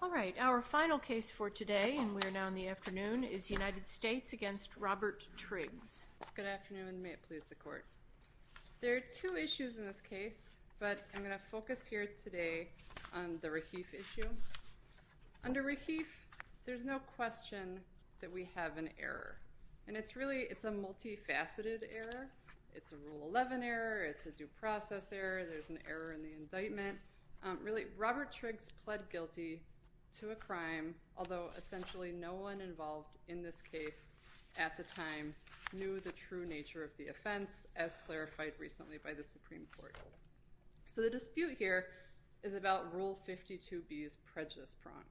All right, our final case for today, and we're now in the afternoon, is United States v. Robert Triggs. Good afternoon. May it please the Court. There are two issues in this case, but I'm going to focus here today on the Rahif issue. Under Rahif, there's no question that we have an error, and it's really, it's a multifaceted error. It's a Rule 11 error, it's a due process error, there's an error in the indictment. Really, Robert Triggs pled guilty to a crime, although essentially no one involved in this case at the time knew the true nature of the offense, as clarified recently by the Supreme Court. So the dispute here is about Rule 52b's prejudice prong,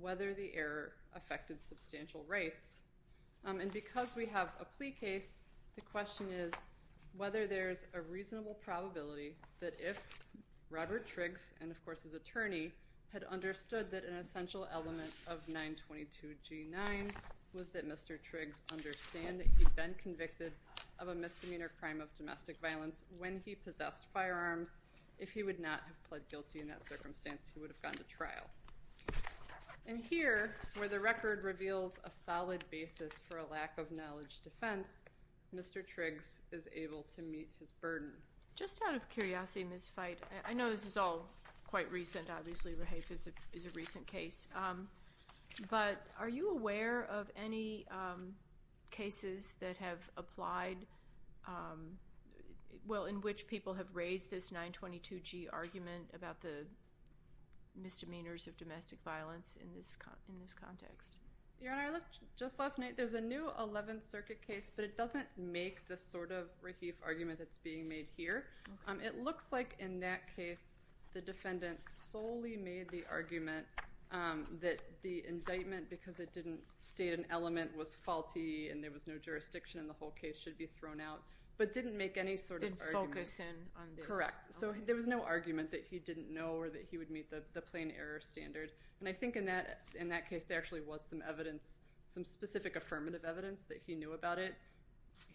whether the error affected substantial rights. And because we have a plea case, the question is whether there's a reasonable probability that if Robert Triggs, and of course his attorney, had understood that an essential element of 922G9 was that Mr. Triggs understand that he'd been convicted of a misdemeanor crime of domestic violence when he possessed firearms, if he would not have pled guilty in that circumstance, he would have gone to trial. And here, where the record reveals a solid basis for a lack of knowledge defense, Mr. Triggs is able to meet his burden. Just out of curiosity, Ms. Feit, I know this is all quite recent, obviously, Raheif is a recent case, but are you aware of any cases that have applied, well, in which people have raised this 922G argument about the misdemeanors of domestic violence in this context? Your Honor, I looked just last night, there's a new 11th Circuit case, but it doesn't make this sort of Raheif argument that's being made here. It looks like in that case, the defendant solely made the argument that the indictment, because it didn't state an element, was faulty, and there was no jurisdiction, and the whole case should be thrown out, but didn't make any sort of argument. Didn't focus in on this. Correct. So there was no argument that he didn't know or that he would meet the plain error standard. And I think in that case, there actually was some evidence, some specific affirmative evidence that he knew about it.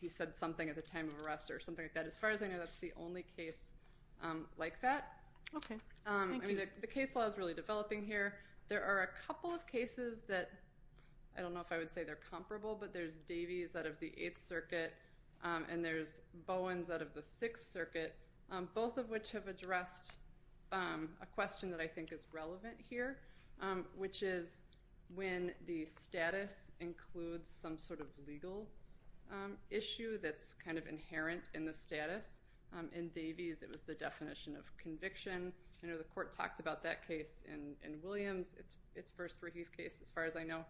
He said something at the time of arrest or something like that. As far as I know, that's the only case like that. Thank you. I mean, the case law is really developing here. There are a couple of cases that I don't know if I would say they're comparable, but there's Davies out of the 8th Circuit, and there's Bowens out of the 6th Circuit, both of which have addressed a question that I think is relevant here, which is when the status includes some sort of legal issue that's kind of inherent in the status, in Davies, it was the definition of conviction. I know the court talked about that case in Williams, its first Rahif case, as far as I know,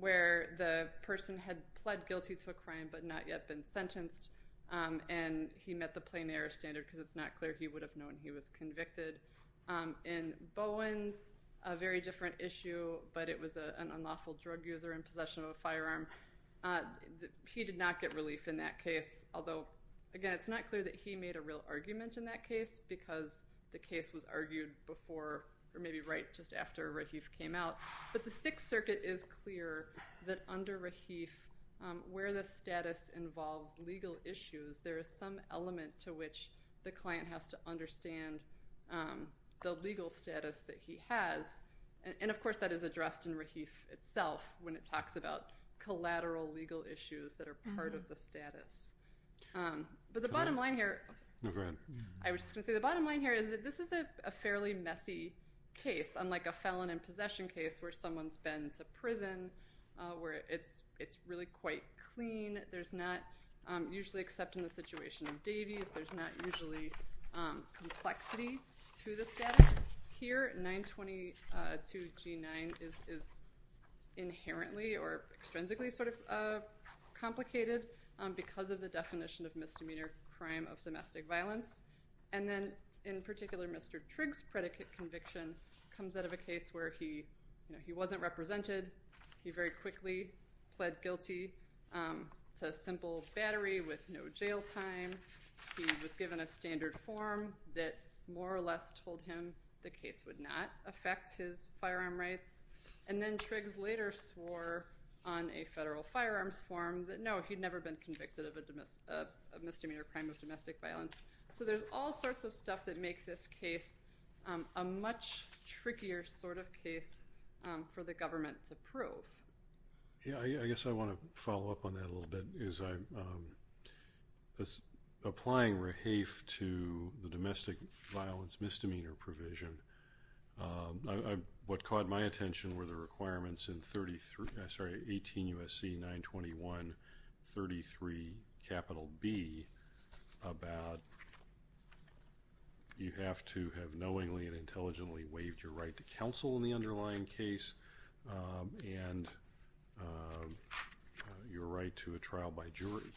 where the person had pled guilty to a crime but not yet been sentenced, and he met the plain error standard because it's not clear he would have known he was convicted. In Bowens, a very different issue, but it was an unlawful drug user in possession of a firearm. He did not get relief in that case, although, again, it's not clear that he made a real argument in that case because the case was argued before or maybe right just after Rahif came out. But the 6th Circuit is clear that under Rahif, where the status involves legal issues, there is some element to which the client has to understand the legal status that he has. And of course, that is addressed in Rahif itself, when it talks about collateral legal issues that are part of the status. But the bottom line here is that this is a fairly messy case, unlike a felon in possession case where someone's been to prison, where it's really quite clean. There's not, usually except in the situation of Davies, there's not usually complexity to the status here. 922 G9 is inherently or extrinsically sort of complicated because of the definition of misdemeanor crime of domestic violence. And then, in particular, Mr. Trigg's predicate conviction comes out of a case where he wasn't represented. He very quickly pled guilty to simple battery with no jail time. He was given a standard form that more or less told him the case would not affect his firearm rights. And then Trigg's later swore on a federal firearms form that, no, he'd never been convicted of a misdemeanor crime of domestic violence. So there's all sorts of stuff that makes this case a much trickier sort of case for the government to prove. Yeah. I guess I want to follow up on that a little bit, is I was applying Rahafe to the domestic violence misdemeanor provision. What caught my attention were the requirements in 33, I'm sorry, 18 U.S.C. 921-33 capital B about you have to have knowingly and intelligently waived your right to counsel in the underlying case and your right to a trial by jury.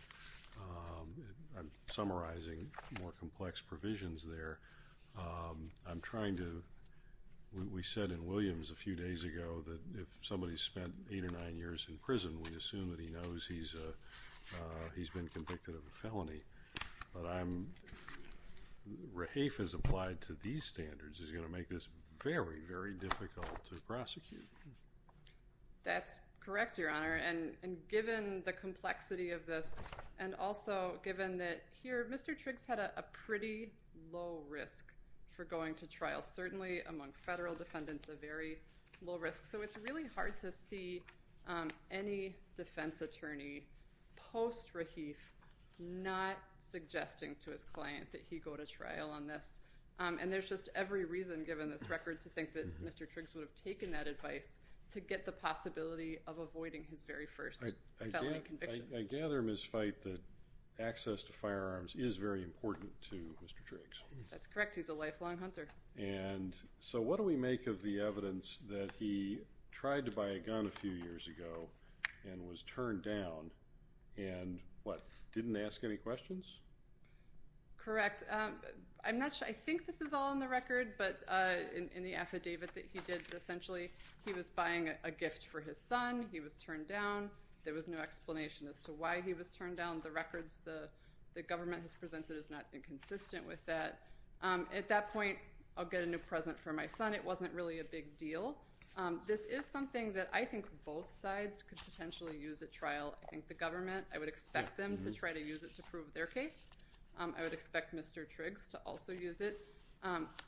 I'm summarizing more complex provisions there. I'm trying to – we said in Williams a few days ago that if somebody spent eight or nine years in prison, we'd assume that he knows he's been convicted of a felony, but Rahafe has applied to these standards is going to make this very, very difficult to prosecute. That's correct, Your Honor, and given the complexity of this and also given that here Mr. Trigg's had a pretty low risk for going to trial, certainly among federal defendants a very low risk. So it's really hard to see any defense attorney post-Rahafe not suggesting to his client that he go to trial on this, and there's just every reason given this record to think that Mr. Trigg's would have taken that advice to get the possibility of avoiding his very first felony conviction. I gather, Ms. Fite, that access to firearms is very important to Mr. Trigg's. That's correct. He's a lifelong hunter. And so what do we make of the evidence that he tried to buy a gun a few years ago and was turned down and what, didn't ask any questions? Correct. I'm not sure, I think this is all in the record, but in the affidavit that he did, essentially he was buying a gift for his son, he was turned down, there was no explanation as to why he was turned down. The records the government has presented has not been consistent with that. At that point, I'll get a new present for my son, it wasn't really a big deal. I think the government, I would expect them to try to use it to prove their case, I would expect Mr. Trigg's to also use it.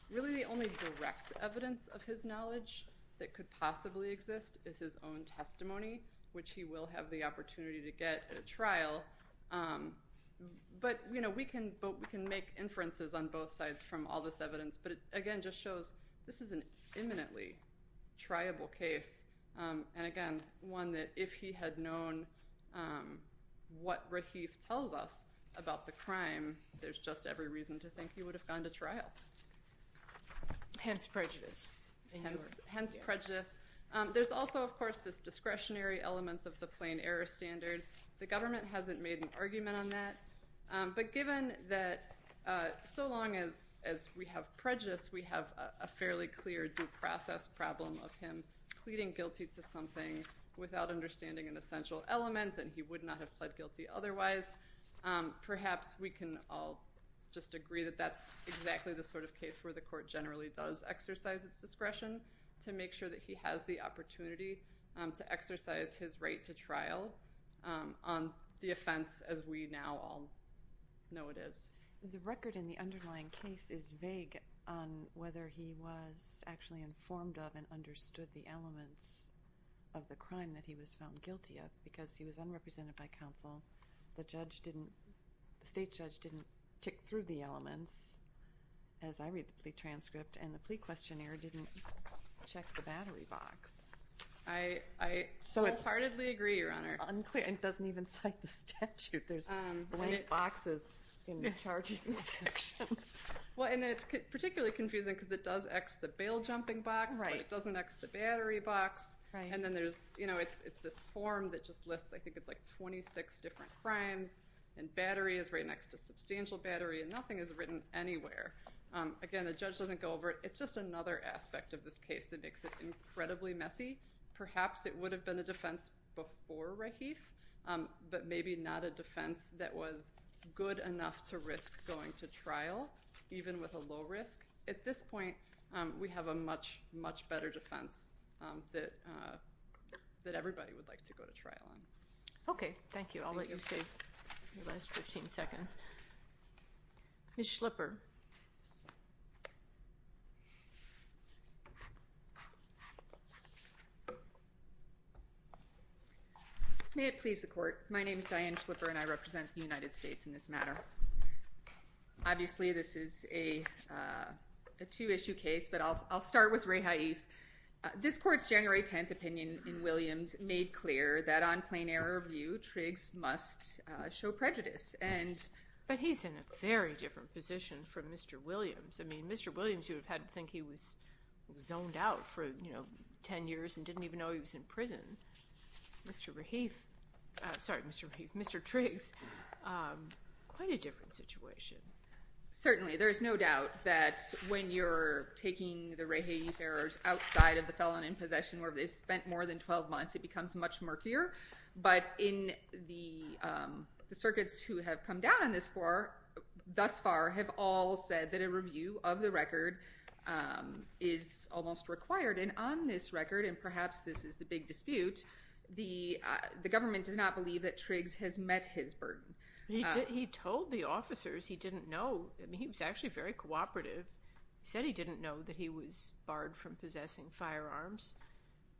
Really the only direct evidence of his knowledge that could possibly exist is his own testimony, which he will have the opportunity to get at a trial. But we can make inferences on both sides from all this evidence, but it again just shows this is an imminently triable case, and again, one that if he had known what Rahif tells us about the crime, there's just every reason to think he would have gone to trial. Hence prejudice. Hence prejudice. There's also, of course, this discretionary element of the plain error standard. The government hasn't made an argument on that, but given that so long as we have prejudice we have a fairly clear due process problem of him pleading guilty to something without understanding an essential element, and he would not have pled guilty otherwise. Perhaps we can all just agree that that's exactly the sort of case where the court generally does exercise its discretion to make sure that he has the opportunity to exercise his right to trial on the offense as we now all know it is. The record in the underlying case is vague on whether he was actually informed of and understood the elements of the crime that he was found guilty of, because he was unrepresented by counsel, the state judge didn't tick through the elements, as I read the plea transcript, and the plea questionnaire didn't check the battery box. I wholeheartedly agree, Your Honor. It doesn't even cite the statute. There's blank boxes in the charging section. Well, and it's particularly confusing because it does X the bail jumping box, but it doesn't X the battery box, and then there's, you know, it's this form that just lists, I think it's like 26 different crimes, and battery is right next to substantial battery, and nothing is written anywhere. Again, the judge doesn't go over it. It's just another aspect of this case that makes it incredibly messy. Perhaps it would have been a defense before Rahif, but maybe not a defense that was good enough to risk going to trial, even with a low risk. At this point, we have a much, much better defense that everybody would like to go to trial on. Okay. Thank you. I'll let you save your last 15 seconds. Ms. Schlipper. May it please the Court. My name is Diane Schlipper, and I represent the United States in this matter. Obviously, this is a two-issue case, but I'll start with Rahif. This Court's January 10th opinion in Williams made clear that on plain error of view, Triggs must show prejudice, and— I mean, Mr. Williams, you would have had to think he was zoned out for, you know, 10 years and didn't even know he was in prison. Mr. Rahif—sorry, Mr. Rahif—Mr. Triggs, quite a different situation. Certainly. There's no doubt that when you're taking the Rahif errors outside of the felon in possession where they spent more than 12 months, it becomes much murkier. But in the circuits who have come down on this Court thus far have all said that a review of the record is almost required. And on this record, and perhaps this is the big dispute, the government does not believe that Triggs has met his burden. He told the officers he didn't know—I mean, he was actually very cooperative. He said he didn't know that he was barred from possessing firearms.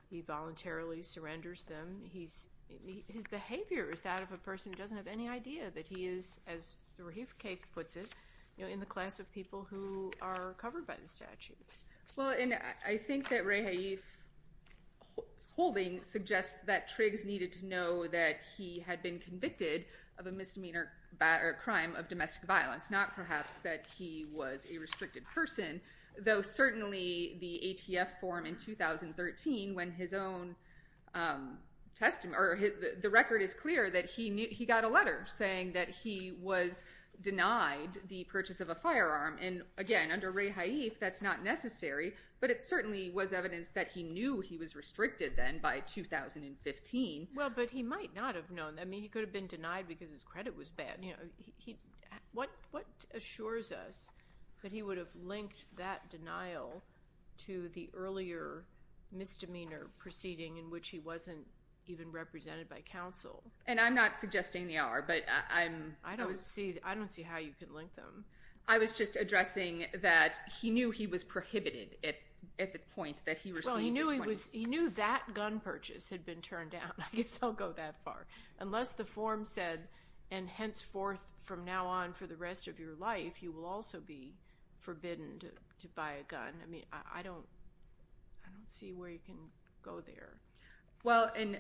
He voluntarily surrenders them. His behavior is that of a person who doesn't have any idea that he is, as the Rahif case puts it, you know, in the class of people who are covered by the statute. Well, and I think that Ray Haif's holding suggests that Triggs needed to know that he had been convicted of a misdemeanor crime of domestic violence, not perhaps that he was a restricted person, though certainly the ATF form in 2013, when his own—the record is clear that he got a letter saying that he was denied the purchase of a firearm. And again, under Ray Haif, that's not necessary, but it certainly was evidence that he knew he was restricted then by 2015. Well, but he might not have known—I mean, he could have been denied because his credit was bad. What assures us that he would have linked that denial to the earlier misdemeanor proceeding in which he wasn't even represented by counsel? And I'm not suggesting they are, but I'm— I don't see how you could link them. I was just addressing that he knew he was prohibited at the point that he received the 20— Well, he knew that gun purchase had been turned down. I guess I'll go that far. Unless the form said, and henceforth from now on for the rest of your life, you will also be forbidden to buy a gun. I mean, I don't—I don't see where you can go there. Well, and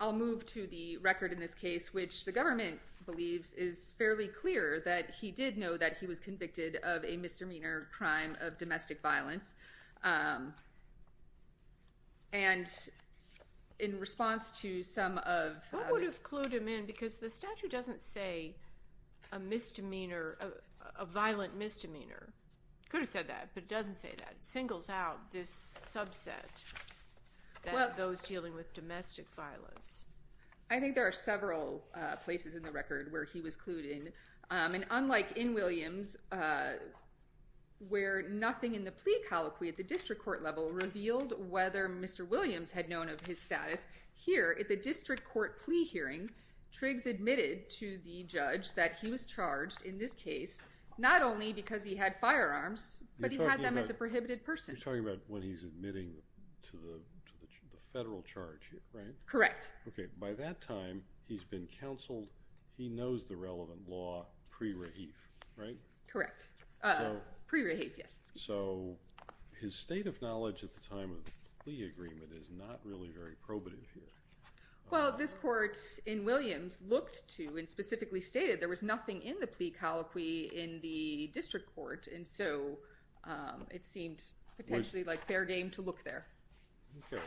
I'll move to the record in this case, which the government believes is fairly clear that he did know that he was convicted of a misdemeanor crime of domestic violence. And in response to some of— What would have clued him in? Because the statute doesn't say a misdemeanor, a violent misdemeanor. It could have said that, but it doesn't say that. It singles out this subset, those dealing with domestic violence. I think there are several places in the record where he was clued in. And unlike in Williams, where nothing in the plea colloquy at the district court level revealed whether Mr. Williams had known of his status, here at the district court plea hearing, Triggs admitted to the judge that he was charged in this case not only because he had firearms, but he had them as a prohibited person. You're talking about when he's admitting to the federal charge here, right? Correct. Okay, by that time, he's been counseled. He knows the relevant law pre-Rahif, right? Correct. Pre-Rahif, yes. So his state of knowledge at the time of the plea agreement is not really very probative here. Well, this court in Williams looked to and specifically stated there was nothing in the plea colloquy in the district court, and so it seemed potentially fair game to look there. Okay.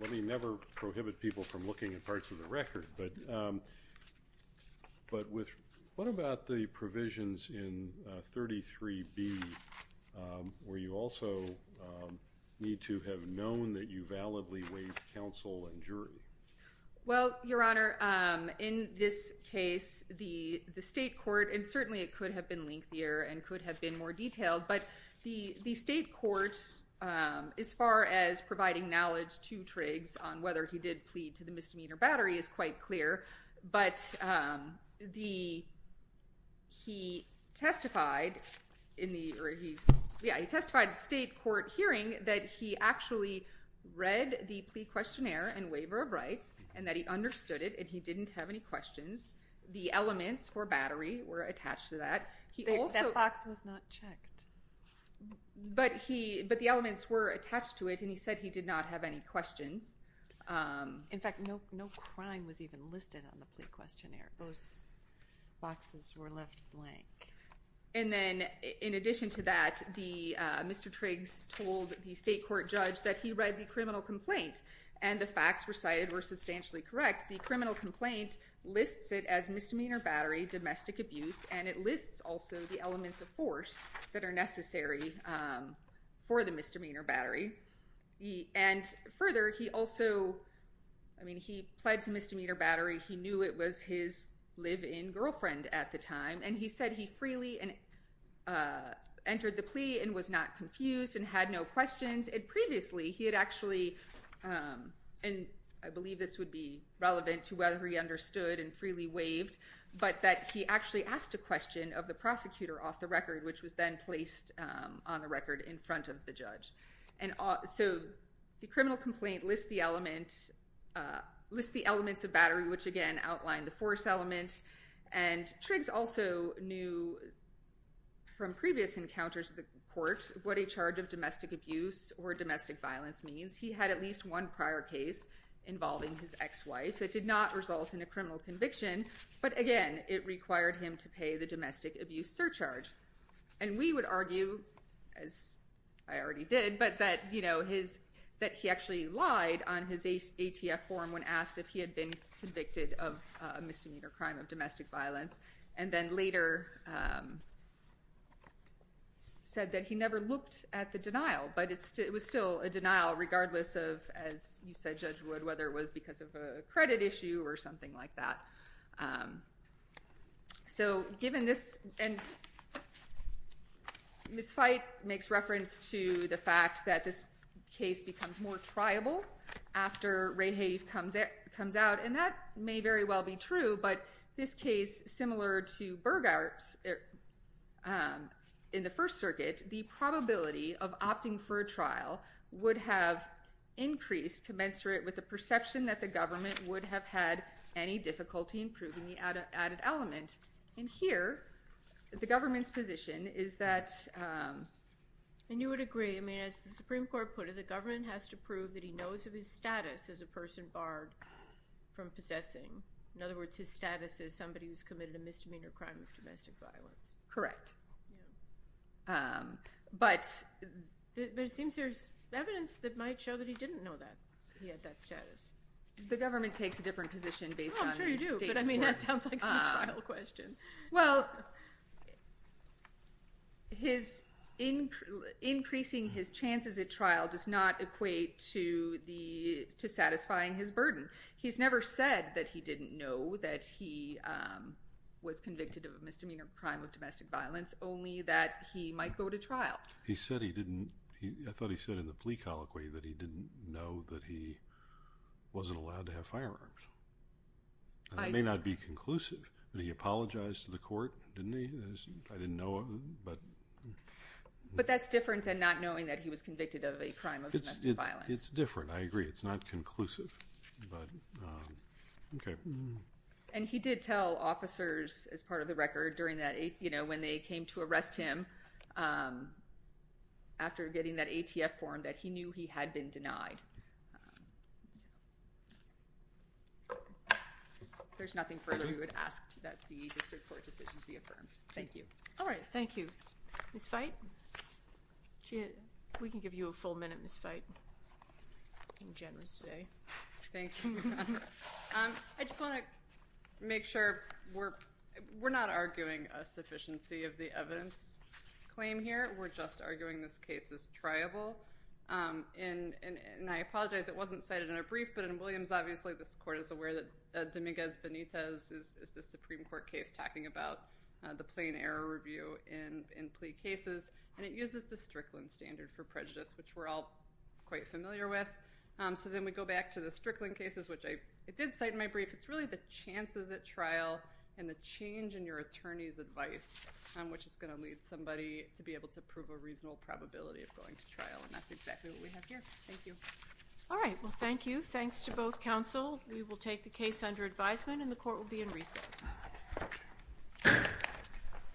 Let me never prohibit people from looking at parts of the record, but what about the provisions in 33B, where you also need to have known that you validly waived counsel and jury? Well, Your Honor, in this case, the state court, and certainly it could have been lengthier and could have been more detailed, but the state court, as far as providing knowledge to Triggs on whether he did plead to the misdemeanor battery is quite clear, but he testified in the state court hearing that he actually read the plea questionnaire and waiver of rights and that he understood it and he didn't have any questions. The elements for battery were attached to that. That box was not checked. But the elements were attached to it and he said he did not have any questions. In fact, no crime was even listed on the plea questionnaire. Those boxes were left blank. And then, in addition to that, Mr. Triggs told the state court judge that he read the criminal complaint and the facts recited were substantially correct. In fact, the criminal complaint lists it as misdemeanor battery, domestic abuse, and it lists also the elements of force that are necessary for the misdemeanor battery. And further, he also, I mean, he pled to misdemeanor battery. He knew it was his live-in girlfriend at the time. And he said he freely entered the plea and was not confused and had no questions. And previously, he had actually, and I believe this would be relevant to whether he understood and freely waived, but that he actually asked a question of the prosecutor off the record, which was then placed on the record in front of the judge. And so the criminal complaint lists the elements of battery, which, again, outlined the force element. And Triggs also knew from previous encounters at the court what a charge of domestic abuse or domestic violence means. He had at least one prior case involving his ex-wife that did not result in a criminal conviction. But again, it required him to pay the domestic abuse surcharge. And we would argue, as I already did, that he actually lied on his ATF form when asked if he had been convicted of a misdemeanor crime of domestic violence, and then later said that he never looked at the denial. But it was still a denial regardless of, as you said, Judge Wood, whether it was because of a credit issue or something like that. So given this, and Ms. Fite makes reference to the fact that this case becomes more triable after Rayhave comes out, and that may very well be true, but this case, similar to Burghardt's, in the First Circuit, the probability of opting for a trial would have increased commensurate with the perception that the government would have had any difficulty in proving the added element. And here, the government's position is that... And you would agree. I mean, as the Supreme Court put it, the government has to prove that he knows of his status as a person barred from possessing. In other words, his status as somebody who's committed a misdemeanor crime of domestic violence. Correct. But... But it seems there's evidence that might show that he didn't know that he had that status. The government takes a different position based on the state's work. Oh, I'm sure you do, but I mean, that sounds like a trial question. Well, increasing his chances at trial does not equate to satisfying his burden. He's never said that he didn't know that he was convicted of a misdemeanor crime of domestic violence, only that he might go to trial. He said he didn't... I thought he said in the plea colloquy that he didn't know that he wasn't allowed to have firearms. That may not be conclusive, but he apologized to the court, didn't he? I didn't know him, but... But that's different than not knowing that he was convicted of a crime of domestic violence. It's different, I agree. It's not conclusive, but... Okay. And he did tell officers, as part of the record, during that, you know, when they came to arrest him, after getting that ATF form, that he knew he had been denied. There's nothing further we would ask that the district court decisions be affirmed. Thank you. All right. Thank you. Ms. Veit? We can give you a full minute, Ms. Veit. You're generous today. Thank you, Your Honor. I just want to make sure we're not arguing a sufficiency of the evidence claim here. We're just arguing this case is triable. And I apologize, it wasn't cited in our brief, but in Williams, obviously, this court is aware that Dominguez-Benitez is the Supreme Court case, talking about the plain error review in plea cases. And it uses the Strickland standard for prejudice, which we're all quite familiar with. So then we go back to the Strickland cases, which I did cite in my brief. It's really the chances at trial and the change in your attorney's advice, which is going to lead somebody to be able to prove a reasonable probability of going to trial. And that's exactly what we have here. Thank you. All right. Well, thank you. Thanks to both counsel. We will take the case under advisement, and the court will be in recess.